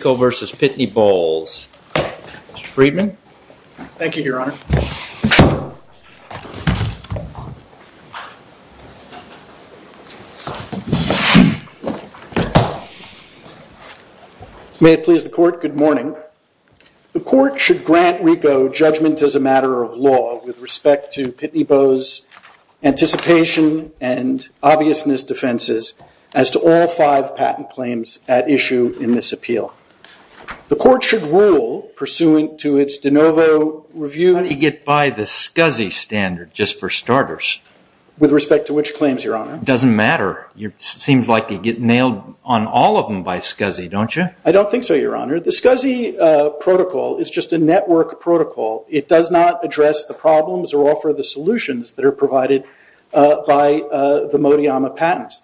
Pitney Bowles. Mr. Friedman? Thank you, Your Honor. May it please the Court, good morning. The Court should grant RICO judgment as a matter of law with respect to Pitney Bowes' anticipation and obviousness defenses as to all five patent claims at issue in this appeal. The Court should rule pursuant to its de novo review. How do you get by the SCSI standard just for starters? With respect to which claims, Your Honor? It doesn't matter. It seems like you get nailed on all of them by SCSI, don't you? I don't think so, Your Honor. The SCSI protocol is just a network protocol. It does not address the problems or offer the solutions that are provided by the Modiyama patents.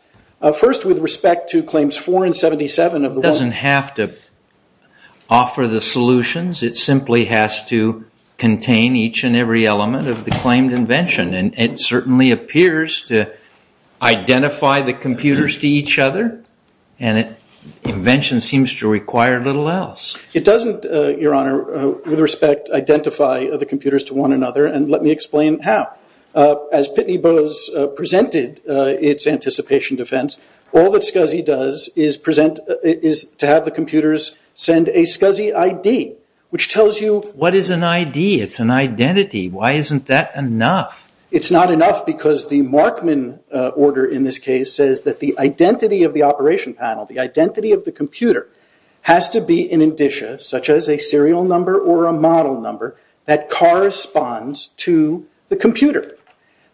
First, with respect to claims 4 and 77 of the world. It doesn't have to offer the solutions. It simply has to contain each and every element of the claimed invention. It certainly appears to identify the computers to each other. Invention seems to require little else. It doesn't, Your Honor, with respect, identify the computers to one another. Let me explain how. As Pitney Bowes presented its anticipation defense, all that SCSI does is to have the computers send a SCSI ID, which tells you- What is an ID? It's an identity. Why isn't that enough? It's not enough because the Markman order in this case says that the identity of the operation panel, the identity of the computer, has to be an indicia such as a serial number or a model number that corresponds to the computer.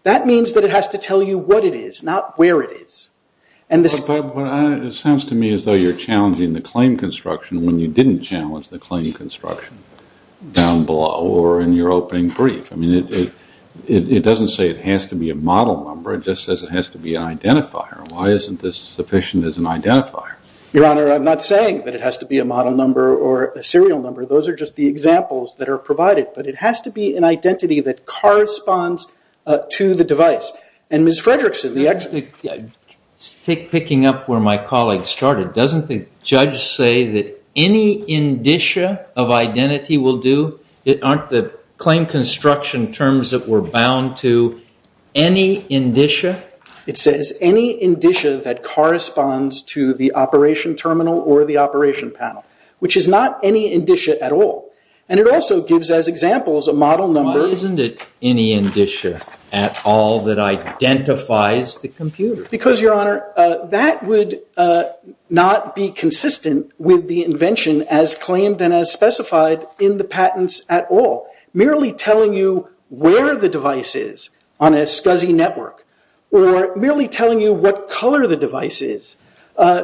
That means that it has to tell you what it is, not where it is. It sounds to me as though you're challenging the claim construction when you didn't challenge the claim construction down below or in your opening brief. It doesn't say it has to be a model number. It just says it has to be an identifier. Why isn't this sufficient as an identifier? Your Honor, I'm not saying that it has to be a model number or a serial number. Those are just the examples that are provided. It has to be an identity that corresponds to the device. Ms. Fredrickson, the- Picking up where my colleague started, doesn't the judge say that any indicia of identity will do? Aren't the claim construction terms that were bound to any indicia? It says any indicia that corresponds to the operation terminal or the operation panel, which is not any indicia at all. It also gives as examples a model number- Because, Your Honor, that would not be consistent with the invention as claimed and as specified in the patents at all. Merely telling you where the device is on a SCSI network or merely telling you what color the device is,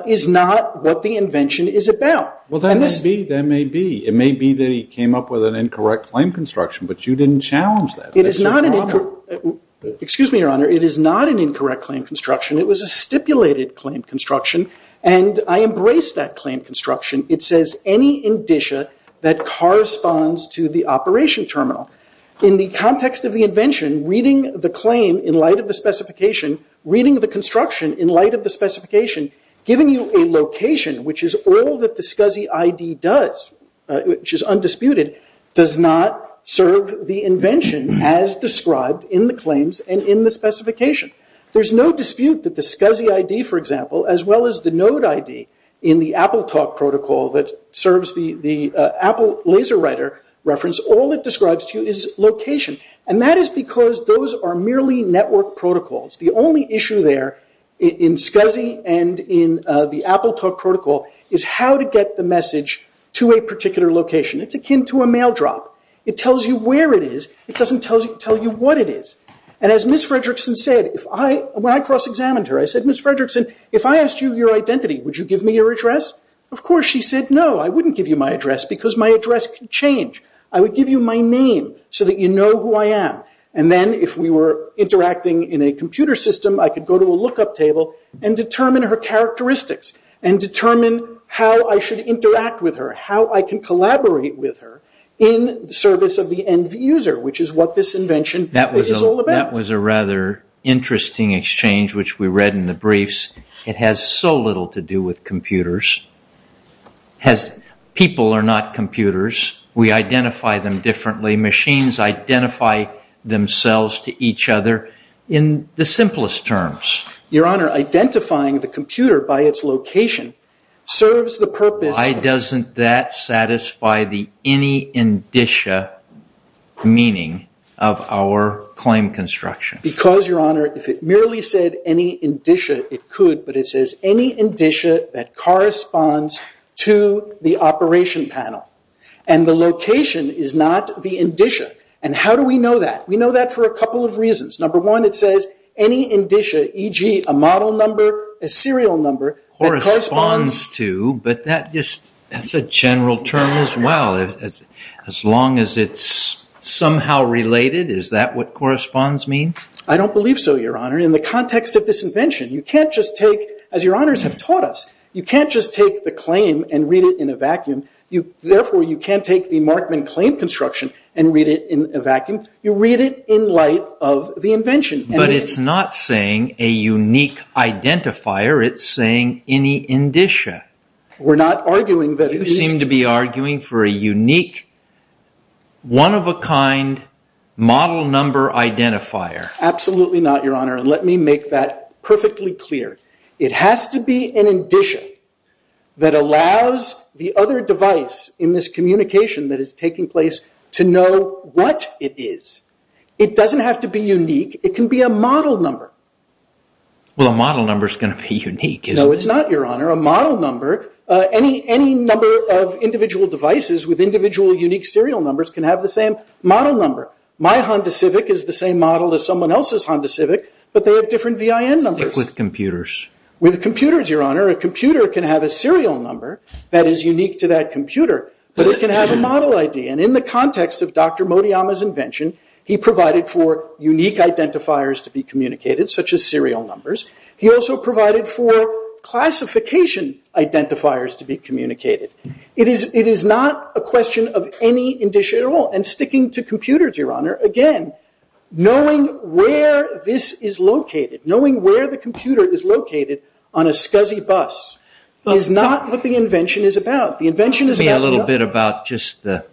is not what the invention is about. That may be. It may be that he came up with an incorrect claim construction, but you didn't challenge that. That's your problem. Excuse me, Your Honor. It is not an incorrect claim construction. It was a stipulated claim construction, and I embrace that claim construction. It says any indicia that corresponds to the operation terminal. In the context of the invention, reading the claim in light of the specification, reading the construction in light of the specification, giving you a location, which is all that the SCSI ID does, which is undisputed, does not serve the invention as described in the claims and in the specification. There's no dispute that the SCSI ID, for example, as well as the Node ID in the AppleTalk protocol that serves the Apple LaserWriter reference, all it describes to you is location. That is because those are merely network protocols. The only issue there in SCSI and in the AppleTalk protocol is how to get the message to a particular location. It's akin to a mail drop. It tells you where it is. It doesn't tell you what it is. As Ms. Fredrickson said, when I cross-examined her, I said, Ms. Fredrickson, if I asked you your identity, would you give me your address? Of course, she said, no, I wouldn't give you my address because my address could change. I would give you my name so that you know who I am. Then, if we were interacting in a computer system, I could go to a look-up table and determine her characteristics and determine how I should interact with her, how I can collaborate with her in service of the end user, which is what this invention is all about. That was a rather interesting exchange, which we read in the briefs. It has so little to do with computers. People are not computers. We identify them differently. Machines identify themselves to each other in the simplest terms. Your Honor, identifying the computer by its location serves the purpose of… Why doesn't that satisfy the any-indicia meaning of our claim construction? Because Your Honor, if it merely said any-indicia, it could, but it says any-indicia that corresponds to the operation panel. The location is not the indicia. How do we know that? We know that for a couple of reasons. Number one, it says any-indicia, e.g., a model number, a serial number, that corresponds… Corresponds to, but that's a general term as well. As long as it's somehow related, is that what corresponds mean? I don't believe so, Your Honor. In the context of this invention, you can't just take, as Your Honors have taught us, you can't just take the claim and read it in a vacuum. Therefore, you can't take the Markman claim construction and read it in a vacuum. You read it in light of the invention. But it's not saying a unique identifier. It's saying any-indicia. We're not arguing that it needs to… You seem to be arguing for a unique, one-of-a-kind, model number identifier. Absolutely not, Your Honor. Let me make that perfectly clear. It has to be an-indicia that allows the other device in this communication that is taking place to know what it is. It doesn't have to be unique. It can be a model number. Well, a model number is going to be unique, isn't it? No, it's not, Your Honor. A model number, any number of individual devices with individual unique serial numbers can have the same model number. My Honda Civic is the same model as someone else's Honda Civic, but they have different VIN numbers. Stick with computers. With computers, Your Honor, a computer can have a serial number that is unique to that computer, but it can have a model ID. In the context of Dr. Motoyama's invention, he provided for unique identifiers to be communicated, such as serial numbers. He also provided for classification identifiers to be communicated. It is not a question of any-indicia at all. Sticking to computers, Your Honor, again, knowing where this is located, knowing where the computer is located on a SCSI bus is not what the invention is about. The invention is about- Give me a little bit about just the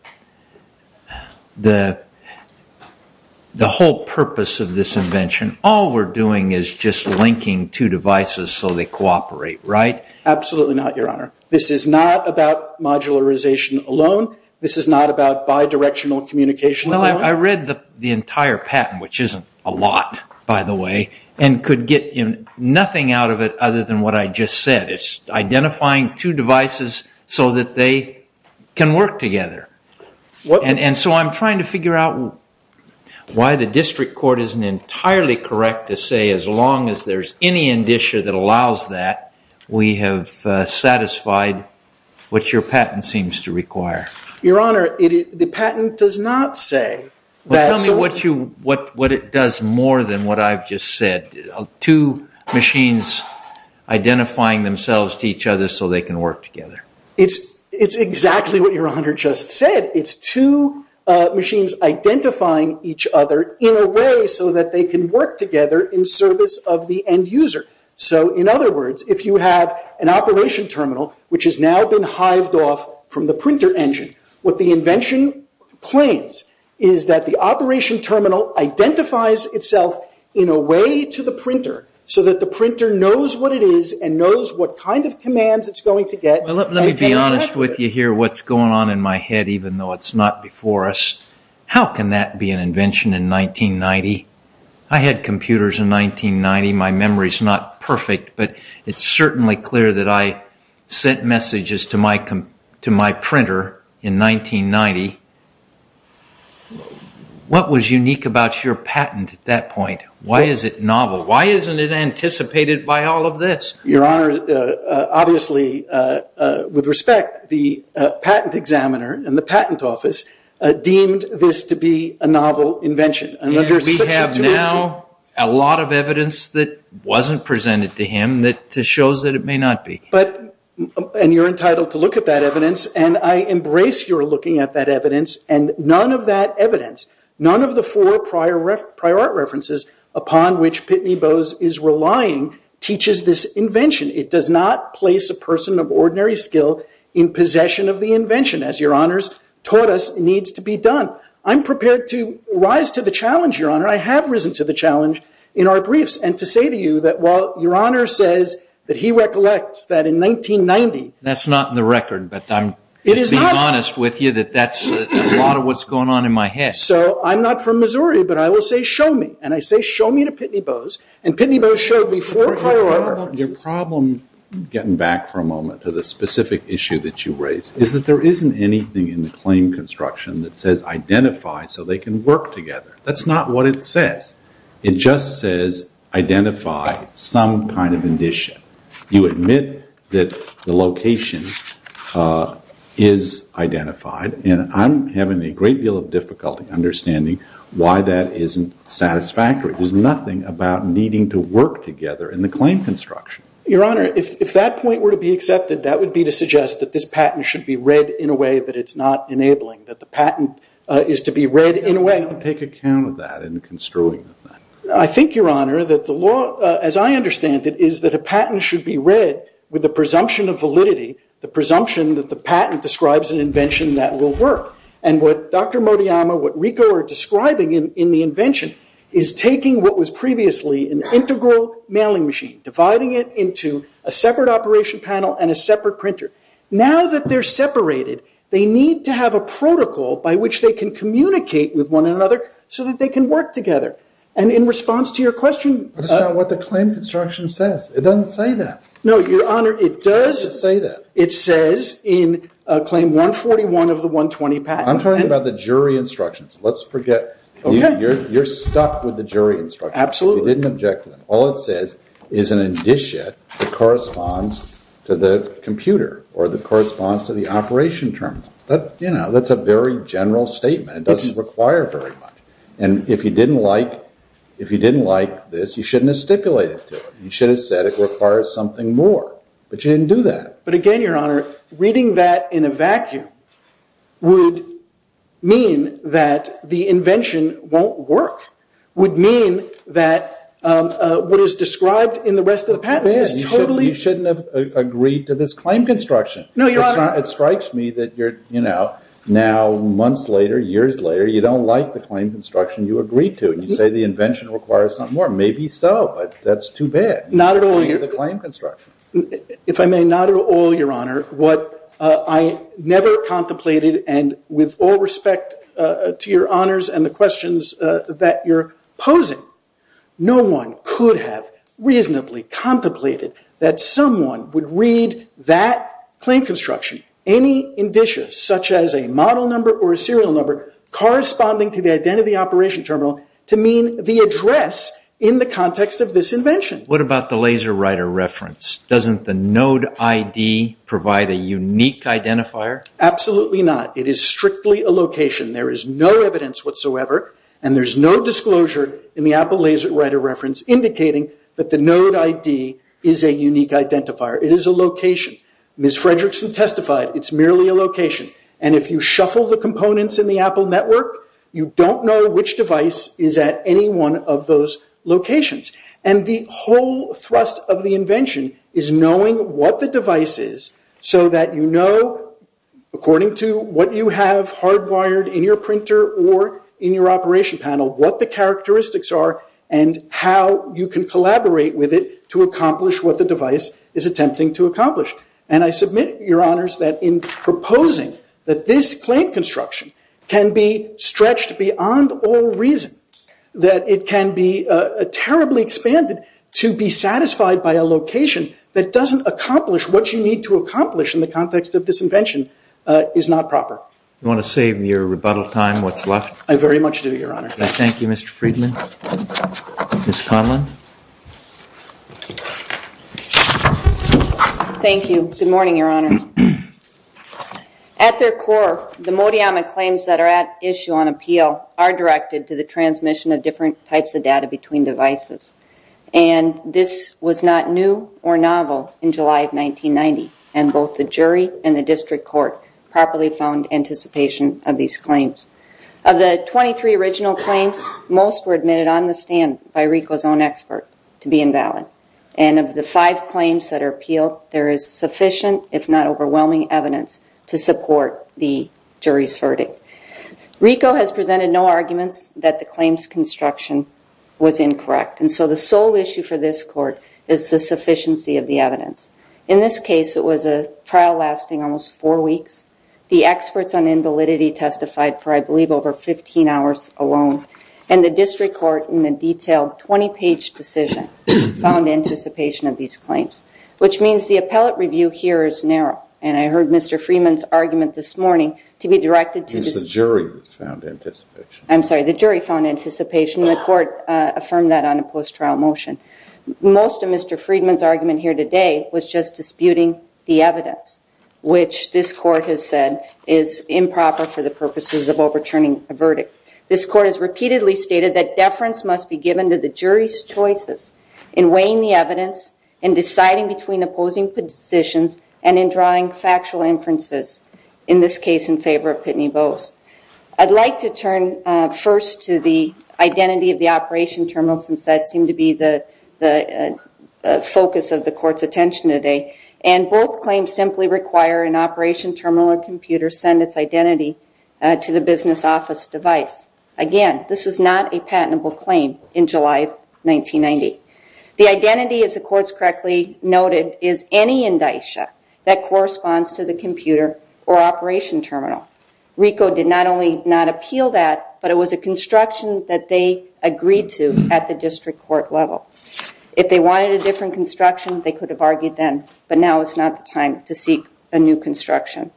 whole purpose of this invention. All we're doing is just linking two devices so they cooperate, right? Absolutely not, Your Honor. This is not about modularization alone. This is not about bidirectional communication alone. I read the entire patent, which isn't a lot, by the way, and could get nothing out of it other than what I just said. It's identifying two devices so that they can work together. I'm trying to figure out why the district court isn't entirely correct to say as long as there's any-indicia that allows that, we have satisfied what your patent seems to require. Your Honor, the patent does not say that- Tell me what it does more than what I've just said. Two machines identifying themselves to each other so they can work together. It's exactly what Your Honor just said. It's two machines identifying each other in a way so that they can work together in service of the end user. In other words, if you have an operation terminal, which has now been hived off from the printer engine, what the invention claims is that the operation terminal identifies itself in a way to the printer so that the printer knows what it is and knows what kind of commands it's going to get. Let me be honest with you here. What's going on in my head, even though it's not before us, how can that be an invention in 1990? I had computers in 1990. My memory's not perfect, but it's certainly clear that I sent messages to my printer in 1990. What was unique about your patent at that point? Why is it novel? Why isn't it anticipated by all of this? Your Honor, obviously, with respect, the patent examiner and the patent office deemed this to be a novel invention. We have now a lot of evidence that wasn't presented to him that shows that it may not be. You're entitled to look at that evidence. I embrace your looking at that evidence. None of that evidence, none of the four prior art references upon which Pitney Bowes is relying teaches this invention. It does not place a person of ordinary skill in possession of a patent. I'm prepared to rise to the challenge, Your Honor. I have risen to the challenge in our briefs and to say to you that while Your Honor says that he recollects that in 1990— That's not in the record, but I'm being honest with you that that's a lot of what's going on in my head. So I'm not from Missouri, but I will say, show me. And I say, show me to Pitney Bowes. And Pitney Bowes showed me four prior art references— Your problem—getting back for a moment to the specific issue that you raised—is that there isn't anything in the claim construction that says, identify so they can work together. That's not what it says. It just says, identify some kind of condition. You admit that the location is identified, and I'm having a great deal of difficulty understanding why that isn't satisfactory. There's nothing about needing to work together in the claim construction. Your Honor, if that point were to be accepted, that would be to suggest that this patent should be read in a way that it's not enabling, that the patent is to be read in a way— But how do you take account of that in the construing of that? I think, Your Honor, that the law, as I understand it, is that a patent should be read with the presumption of validity, the presumption that the patent describes an invention that will work. And what Dr. Motoyama, what Rico are describing in the invention, is taking what was previously an integral mailing machine, dividing it into a separate operation panel and a separate printer. Now that they're separated, they need to have a protocol by which they can communicate with one another so that they can work together. And in response to your question— But it's not what the claim construction says. It doesn't say that. No, Your Honor, it does— It doesn't say that. It says in Claim 141 of the 120 patent— I'm talking about the jury instructions. Let's forget— Okay. You're stuck with the jury instructions. Absolutely. You didn't object to them. All it says is an indicia that corresponds to the computer or that corresponds to the operation terminal. That's a very general statement. It doesn't require very much. And if you didn't like this, you shouldn't have stipulated to it. You should have said it requires something more. But you didn't do that. But again, Your Honor, reading that in a vacuum would mean that the invention won't work, would mean that what is described in the rest of the patent is totally— You shouldn't have agreed to this claim construction. No, Your Honor— It strikes me that now, months later, years later, you don't like the claim construction you agreed to. And you say the invention requires something more. Maybe so, but that's too bad— Not at all, Your— —for the claim construction. If I may, not at all, Your Honor. What I never contemplated, and with all respect to Your opposing, no one could have reasonably contemplated that someone would read that claim construction, any indicia such as a model number or a serial number, corresponding to the identity operation terminal, to mean the address in the context of this invention. What about the laser writer reference? Doesn't the node ID provide a unique identifier? Absolutely not. It is strictly a location. There is no evidence whatsoever, and there's no disclosure in the Apple laser writer reference indicating that the node ID is a unique identifier. It is a location. Ms. Fredrickson testified, it's merely a location. And if you shuffle the components in the Apple network, you don't know which device is at any one of those locations. And the whole thrust of the invention is knowing what the device is so that you know, according to what you have hardwired in your printer or in your operation panel, what the characteristics are and how you can collaborate with it to accomplish what the device is attempting to accomplish. And I submit, Your Honors, that in proposing that this claim construction can be stretched beyond all reason, that it can be terribly expanded to be satisfied by a location that doesn't accomplish what you need to accomplish in the context of this invention, is not proper. You want to save your rebuttal time, what's left? I very much do, Your Honor. I thank you, Mr. Friedman. Ms. Conlon? Thank you. Good morning, Your Honor. At their core, the Modiyama claims that are at issue on appeal are directed to the transmission of different types of data between devices. And this was not new or novel in July of 1990, and both the jury and the district court properly found anticipation of these claims. Of the 23 original claims, most were admitted on the stand by RICO's own expert to be invalid. And of the five claims that are appealed, there is sufficient, if not overwhelming, evidence to support the jury's verdict. RICO has presented no arguments that the claims construction was incorrect, and so the sole issue for this court is the sufficiency of the evidence. In this case, it was a trial lasting almost four weeks. The experts on invalidity testified for, I believe, over 15 hours alone. And the district court, in a detailed 20-page decision, found anticipation of these claims, which means the appellate review here is narrow. And I heard Mr. Freedman's argument this morning to be directed to the jury who found anticipation. I'm sorry, the jury found anticipation, and the court affirmed that on a post-trial motion. Most of Mr. Freedman's argument here today was just disputing the evidence, which this court has said is improper for the purposes of overturning a verdict. This court has repeatedly stated that deference must be given to the jury's choices in weighing the evidence, in deciding between opposing positions, and in drawing factual inferences, in this case in favor of Pitney Bowes. I'd like to turn first to the identity of the operation terminal, since that seemed to be the focus of the court's attention today. And both claims simply require an operation terminal or computer send its identity to the business office device. Again, this is not a patentable claim in July of 1990. The identity, as the courts correctly noted, is any indicia that corresponds to the computer or operation terminal. RICO did not only not appeal that, but it was a construction that they agreed to at the district court level. If they wanted a different construction, they could have argued then, but now is not the time to seek a new construction.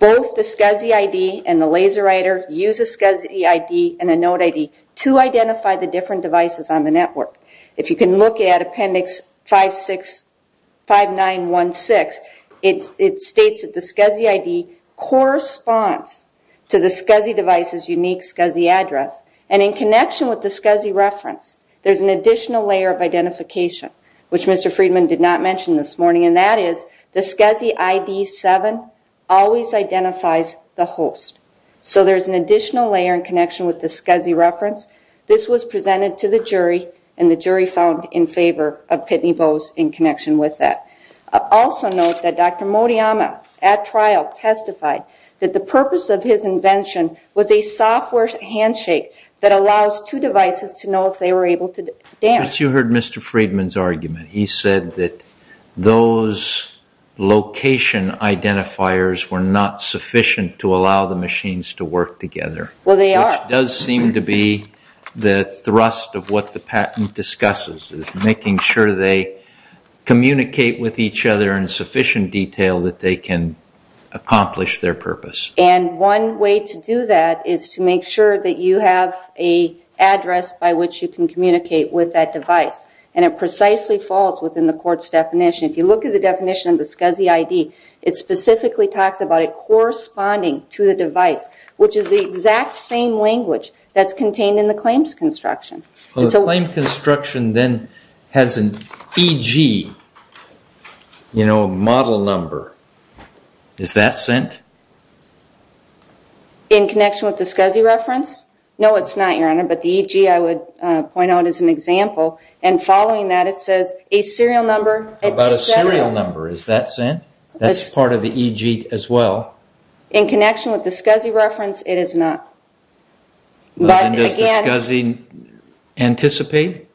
Both the SCSI ID and the laser writer use a SCSI ID and a note ID to identify the different devices on the network. If you can look at Appendix 5916, it states that the SCSI ID corresponds to the SCSI device's unique SCSI address. And in connection with the SCSI reference, there's an additional layer of identification, which Mr. Friedman did not mention this morning, and that is the SCSI ID 7 always identifies the host. So there's an additional layer in connection with the SCSI reference. This was presented to the jury, and the jury found in favor of Pitney Bowes in connection with that. Also note that Dr. Moriyama at trial testified that the purpose of his invention was a software handshake that allows two devices to know if they were able to dance. You heard Mr. Friedman's argument. He said that those location identifiers were not sufficient to allow the machines to work together. Well, they are. Which does seem to be the thrust of what the patent discusses, is making sure they communicate with each other in sufficient detail that they can accomplish their purpose. And one way to do that is to make sure that you have an address by which you can communicate with that device. And it precisely falls within the court's definition. If you look at the definition of the SCSI ID, it specifically talks about it corresponding to the device, which is the exact same language that's contained in the claims construction. Well, the claims construction then has an EG, you know, model number. Is that sent? In connection with the SCSI reference? No, it's not, Your Honor, but the EG I would point out as an example. And following that, it says a serial number. How about a serial number? Is that sent? That's part of the EG as well. In connection with the SCSI reference, it is not. But again... Does the SCSI anticipate?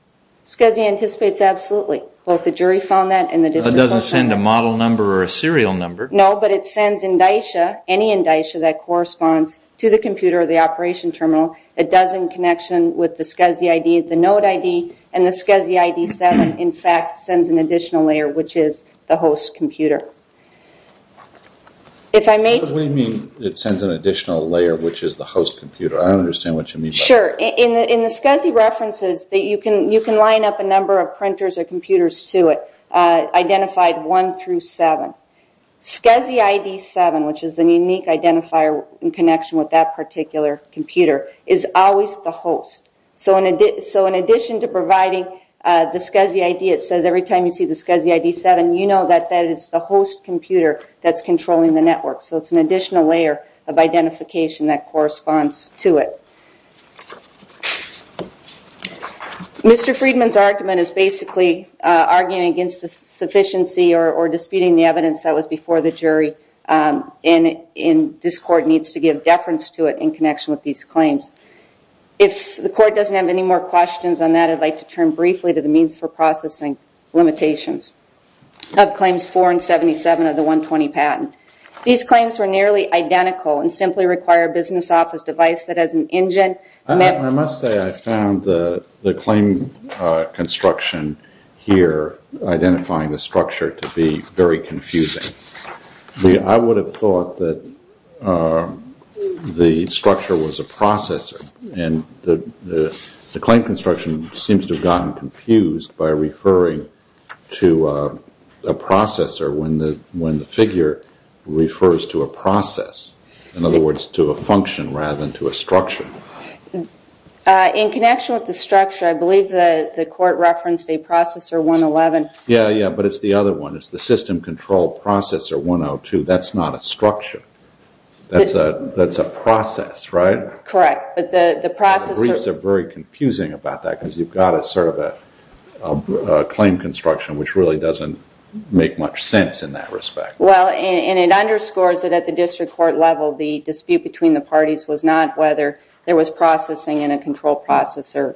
SCSI anticipates absolutely. But the jury found that and the district... So it doesn't send a model number or a serial number? No, but it sends any indicia that corresponds to the computer or the operation terminal. It does in connection with the SCSI ID, the note ID, and the SCSI ID 7 in fact sends an additional layer which is the host computer. What do you mean it sends an additional layer which is the host computer? I don't understand what you mean by that. Sure. In the SCSI references, you can line up a number of printers or computers to it, identified 1 through 7. SCSI ID 7, which is the unique identifier in connection with that particular computer, is always the host. So in addition to providing the SCSI ID, it says every time you see the SCSI ID 7, you have a host computer that's controlling the network. So it's an additional layer of identification that corresponds to it. Mr. Friedman's argument is basically arguing against the sufficiency or disputing the evidence that was before the jury and this court needs to give deference to it in connection with these claims. If the court doesn't have any more questions on that, I'd like to turn briefly to the means for processing limitations of claims 4 and 77 of the 120 patent. These claims are nearly identical and simply require a business office device that has an engine. I must say I found the claim construction here identifying the structure to be very confusing. I would have thought that the structure was a processor and the claim construction seems to have gotten confused by referring to a processor when the figure refers to a process. In other words, to a function rather than to a structure. In connection with the structure, I believe the court referenced a processor 111. Yeah, yeah, but it's the other one. It's the system control processor 102. That's not a structure. That's a process, right? Correct. The briefs are very confusing about that because you've got a sort of a claim construction which really doesn't make much sense in that respect. Well, and it underscores that at the district court level, the dispute between the parties was not whether there was processing in a control processor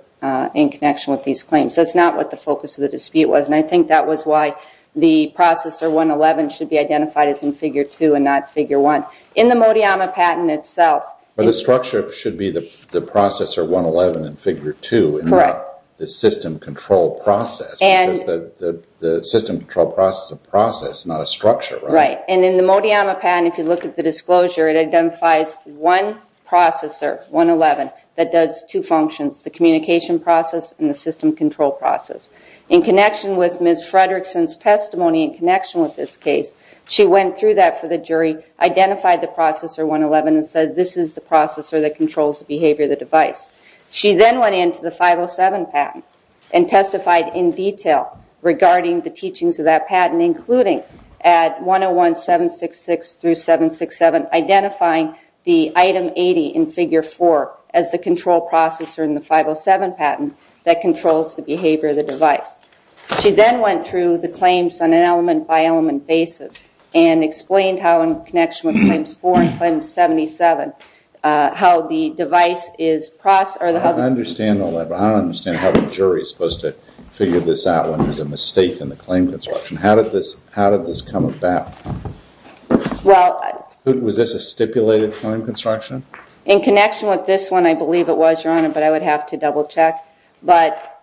in connection with these claims. That's not what the focus of the dispute was and I think that was why the processor 111 should be identified as in figure 2 and not figure 1. In the Motiyama patent itself- But the structure should be the processor 111 in figure 2 and not the system control process because the system control process is a process, not a structure, right? Right. And in the Motiyama patent, if you look at the disclosure, it identifies one processor 111 that does two functions, the communication process and the system control process. In connection with Ms. Fredrickson's testimony, in connection with this case, she went through that for the jury, identified the processor 111 and said, this is the processor that controls the behavior of the device. She then went into the 507 patent and testified in detail regarding the teachings of that patent including at 101-766-767 identifying the item 80 in figure 4 as the control processor in the 507 patent that controls the behavior of the device. She then went through the claims on an element-by-element basis and explained how in connection with claims 4 and claims 77, how the device is processed- I understand all that, but I don't understand how the jury is supposed to figure this out when there's a mistake in the claim construction. How did this come about? Was this a stipulated claim construction? In connection with this one, I believe it was, Your Honor, but I would have to double check. But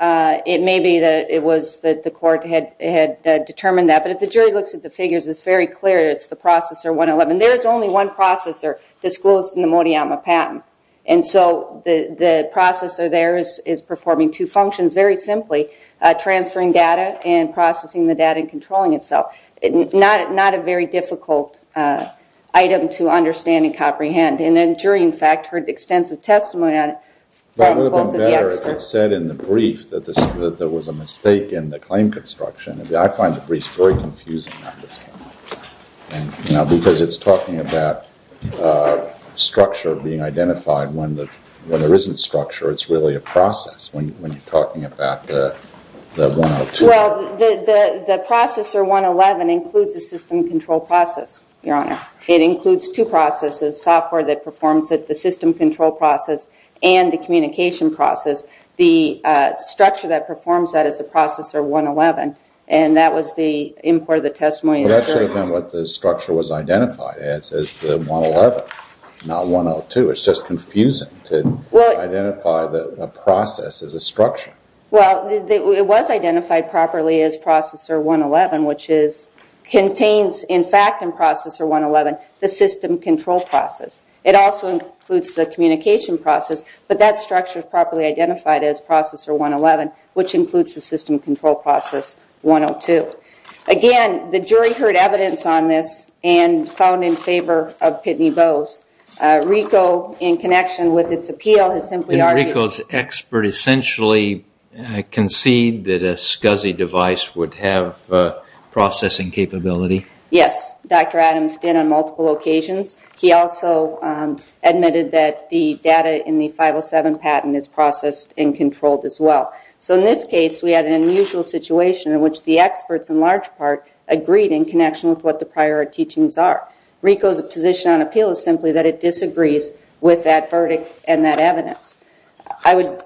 it may be that it was that the court had determined that. But if the jury looks at the figures, it's very clear it's the processor 111. There's only one processor disclosed in the Moriyama patent. And so the processor there is performing two functions very simply, transferring data and processing the data and controlling itself. Not a very difficult item to understand and comprehend. And then the jury, in fact, heard extensive testimony on it. But it would have been better if it said in the brief that there was a mistake in the claim construction. I find the brief very confusing on this one, because it's talking about structure being identified when there isn't structure. It's really a process when you're talking about the 102. Well, the processor 111 includes a system control process, Your Honor. It includes two processes, software that performs it, the system control process, and the communication process. The structure that performs that is the processor 111. And that was the import of the testimony. Well, that should have been what the structure was identified as, as the 111, not 102. Well, it was identified properly as processor 111, which contains, in fact, in processor 111, the system control process. It also includes the communication process. But that structure is properly identified as processor 111, which includes the system control process 102. Again, the jury heard evidence on this and found in favor of Pitney Bowes. RICO, in connection with its appeal, has simply argued that- concede that a SCSI device would have processing capability. Yes. Dr. Adams did on multiple occasions. He also admitted that the data in the 507 patent is processed and controlled as well. So in this case, we had an unusual situation in which the experts, in large part, agreed in connection with what the prior teachings are. RICO's position on appeal is simply that it disagrees with that verdict and that evidence. I would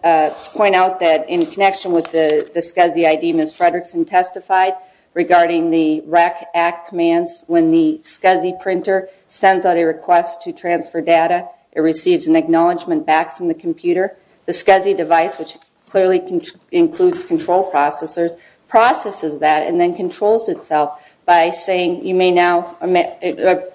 point out that in connection with the SCSI ID, Ms. Fredrickson testified regarding the RAC Act commands. When the SCSI printer sends out a request to transfer data, it receives an acknowledgment back from the computer. The SCSI device, which clearly includes control processors, processes that and then controls itself by saying you may now-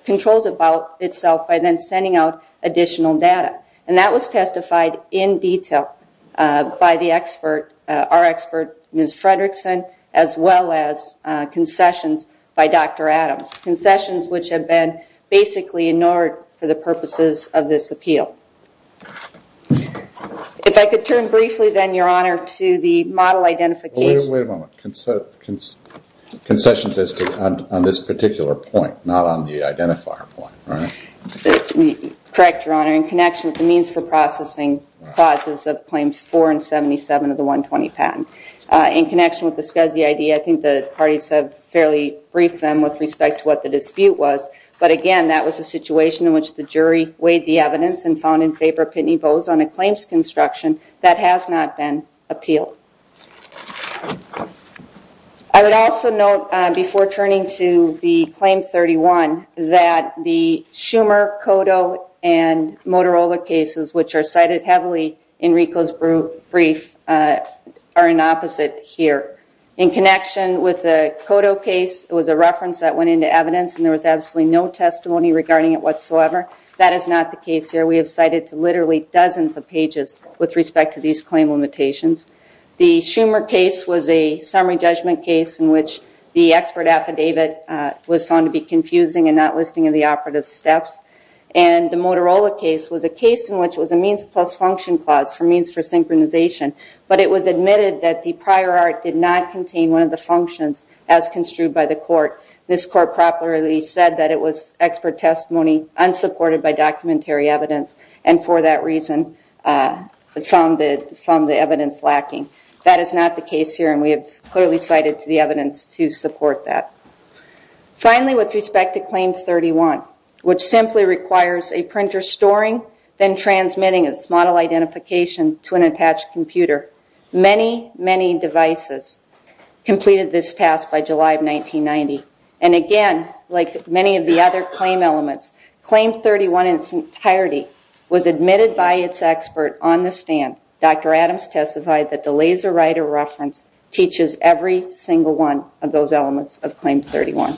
controls about itself by then sending out additional data. And that was testified in detail by the expert, our expert, Ms. Fredrickson, as well as concessions by Dr. Adams. Concessions which have been basically ignored for the purposes of this appeal. If I could turn briefly then, Your Honor, to the model identification- Wait a moment. Concessions as to- on this particular point, not on the identifier point, right? Correct, Your Honor. In connection with the means for processing clauses of Claims 4 and 77 of the 120 patent. In connection with the SCSI ID, I think the parties have fairly briefed them with respect to what the dispute was. But again, that was a situation in which the jury weighed the evidence and found in favor of Pitney Bowes on a claims construction that has not been appealed. I would also note, before turning to the Claim 31, that the Schumer, Cotto, and Motorola cases which are cited heavily in Rico's brief are in opposite here. In connection with the Cotto case, it was a reference that went into evidence and there was absolutely no testimony regarding it whatsoever. That is not the case here. We have cited literally dozens of pages with respect to these claim limitations. The Schumer case was a summary judgment case in which the expert affidavit was found to be confusing and not listing in the operative steps. And the Motorola case was a case in which it was a means plus function clause for means for synchronization. But it was admitted that the prior art did not contain one of the functions as construed by the court. This court properly said that it was expert testimony unsupported by documentary evidence and for that reason found the evidence lacking. That is not the case here and we have clearly cited to the evidence to support that. Finally, with respect to Claim 31, which simply requires a printer storing, then transmitting its model identification to an attached computer, many, many devices completed this task by July of 1990. And again, like many of the other claim elements, Claim 31 in its entirety was admitted by its expert on the stand, Dr. Adams testified that the laser writer reference teaches every single one of those elements of Claim 31.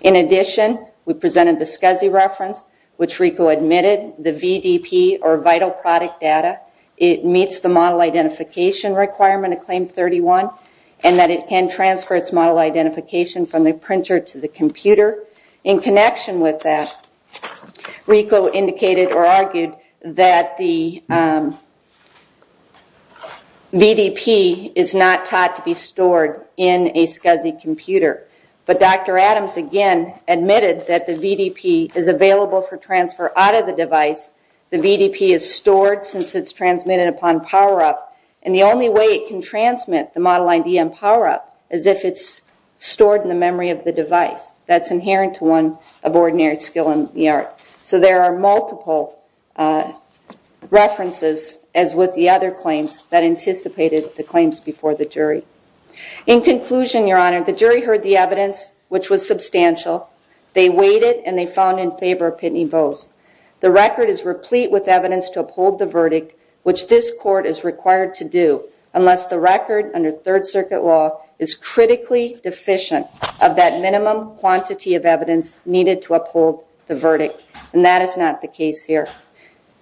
In addition, we presented the SCSI reference, which RICO admitted the VDP or vital product data, it meets the model identification requirement of Claim 31 and that it can transfer its model identification from the printer to the computer. In connection with that, RICO indicated or argued that the VDP is not taught to be stored in a SCSI computer. But Dr. Adams again admitted that the VDP is available for transfer out of the device, the VDP is stored since it is transmitted upon power up and the only way it can transmit the model ID and power up is if it's stored in the memory of the device that's inherent to one of ordinary skill in the art. So there are multiple references as with the other claims that anticipated the claims before the jury. In conclusion, Your Honor, the jury heard the evidence, which was substantial. They weighed it and they found in favor of Pitney Bowes. The record is replete with evidence to uphold the verdict, which this court is required to do unless the record under Third Circuit law is critically deficient of that minimum quantity of evidence needed to uphold the verdict and that is not the case here.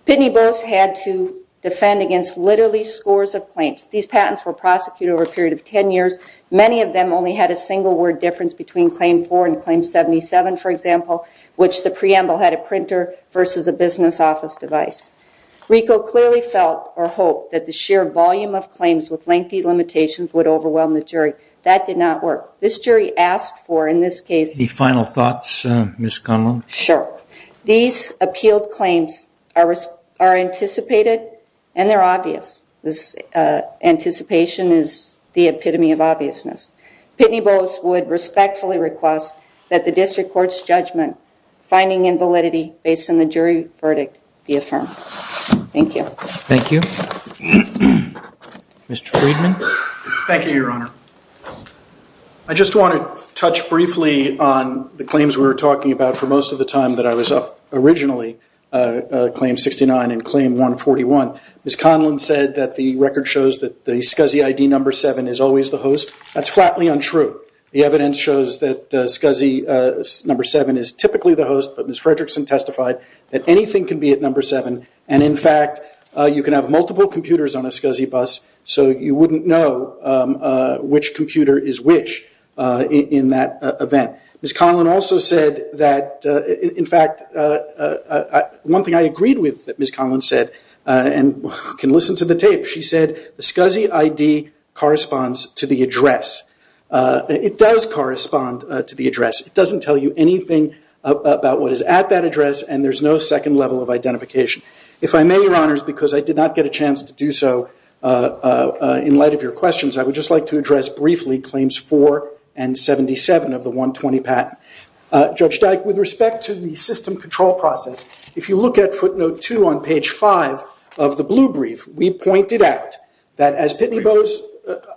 Pitney Bowes had to defend against literally scores of claims. These patents were prosecuted over a period of 10 years. Many of them only had a single word difference between Claim 4 and Claim 77, for example, which the preamble had a printer versus a business office device. RICO clearly felt or hoped that the sheer volume of claims with lengthy limitations would overwhelm the jury. That did not work. This jury asked for, in this case- Any final thoughts, Ms. Conlon? Sure. These appealed claims are anticipated and they're obvious. This anticipation is the epitome of obviousness. Pitney Bowes would respectfully request that the district court's judgment finding in validity based on the jury verdict be affirmed. Thank you. Thank you. Mr. Friedman? Thank you, Your Honor. I just want to touch briefly on the claims we were talking about for most of the time that I was up originally, Claim 69 and Claim 141. Ms. Conlon said that the record shows that the SCSI ID number 7 is always the host. That's flatly untrue. The evidence shows that SCSI number 7 is typically the host, but Ms. Fredrickson testified that anything can be at number 7. In fact, you can have multiple computers on a SCSI bus, so you wouldn't know which computer is which in that event. Ms. Conlon also said that- In fact, one thing I agreed with that Ms. Conlon said, and you can listen to the tape. She said the SCSI ID corresponds to the address. It does correspond to the address. It doesn't tell you anything about what is at that address, and there's no second level of identification. If I may, Your Honors, because I did not get a chance to do so in light of your questions, I would just like to address briefly Claims 4 and 77 of the 120 patent. Judge Dyke, with respect to the system control process, if you look at footnote 2 on page 5 of the blue brief, we pointed out that as Pitney Bowes-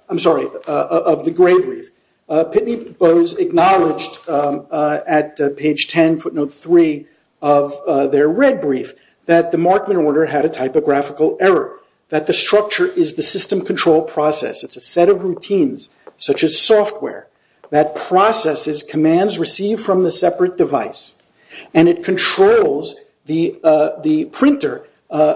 I'm sorry, of the gray brief, Pitney Bowes acknowledged at page 10, footnote 3 of their red brief, that the Markman order had a typographical error, that the structure is the system control process. It's a set of routines, such as software, that processes commands received from the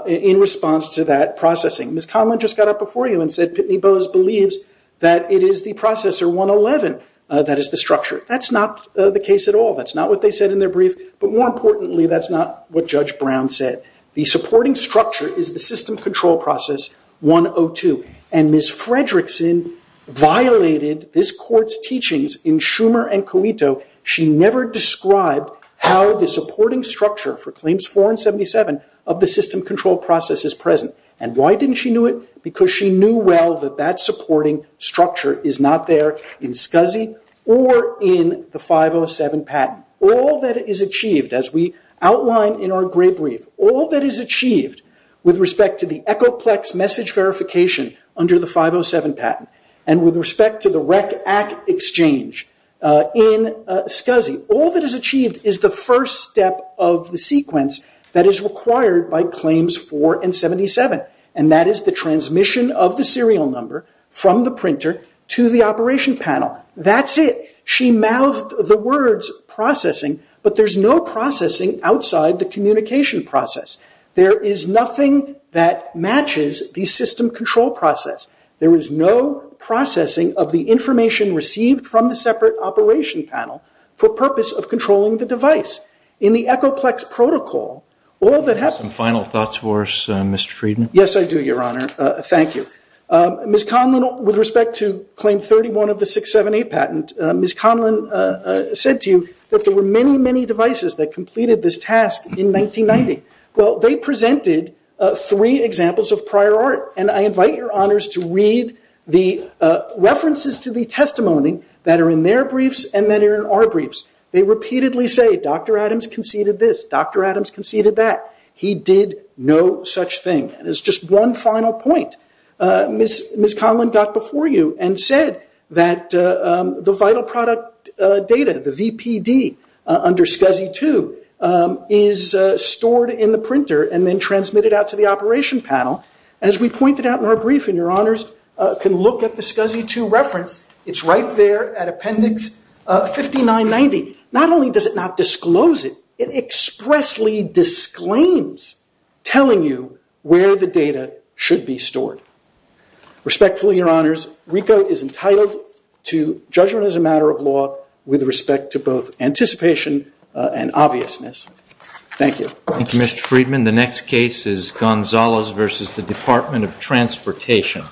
in response to that processing. Ms. Conlon just got up before you and said Pitney Bowes believes that it is the Processor 111 that is the structure. That's not the case at all. That's not what they said in their brief, but more importantly, that's not what Judge Brown said. The supporting structure is the system control process 102, and Ms. Fredrickson violated this court's teachings in Schumer and Coito. She never described how the supporting structure for claims 4 and 77 of the system control process is present. Why didn't she do it? Because she knew well that that supporting structure is not there in SCSI or in the 507 patent. All that is achieved, as we outline in our gray brief, all that is achieved with respect to the Echoplex message verification under the 507 patent, and with respect to the REC Act exchange in SCSI, all that is achieved is the first step of the sequence that is required by claims 4 and 77, and that is the transmission of the serial number from the printer to the operation panel. That's it. She mouthed the words processing, but there's no processing outside the communication process. There is nothing that matches the system control process. There is no processing of the information received from the separate operation panel for purpose of controlling the device. In the Echoplex protocol, all that happens- Some final thoughts for us, Mr. Friedman? Yes, I do, Your Honor. Thank you. Ms. Conlon, with respect to claim 31 of the 678 patent, Ms. Conlon said to you that there were many, many devices that completed this task in 1990. They presented three examples of prior art, and I invite your honors to read the references to the testimony that are in their briefs and that are in our briefs. They repeatedly say, Dr. Adams conceded this, Dr. Adams conceded that. He did no such thing, and as just one final point, Ms. Conlon got before you and said that the vital product data, the VPD under SCSI 2 is stored in the printer and then transmitted out to the operation panel. As we pointed out in our brief, and your honors can look at the SCSI 2 reference, it's right there at appendix 5990. Not only does it not disclose it, it expressly disclaims telling you where the data should be stored. Respectfully, your honors, RICO is entitled to judgment as a matter of law with respect to both anticipation and obviousness. Thank you. Thank you, Mr. Friedman. The next case is Gonzales versus the Department of Transportation.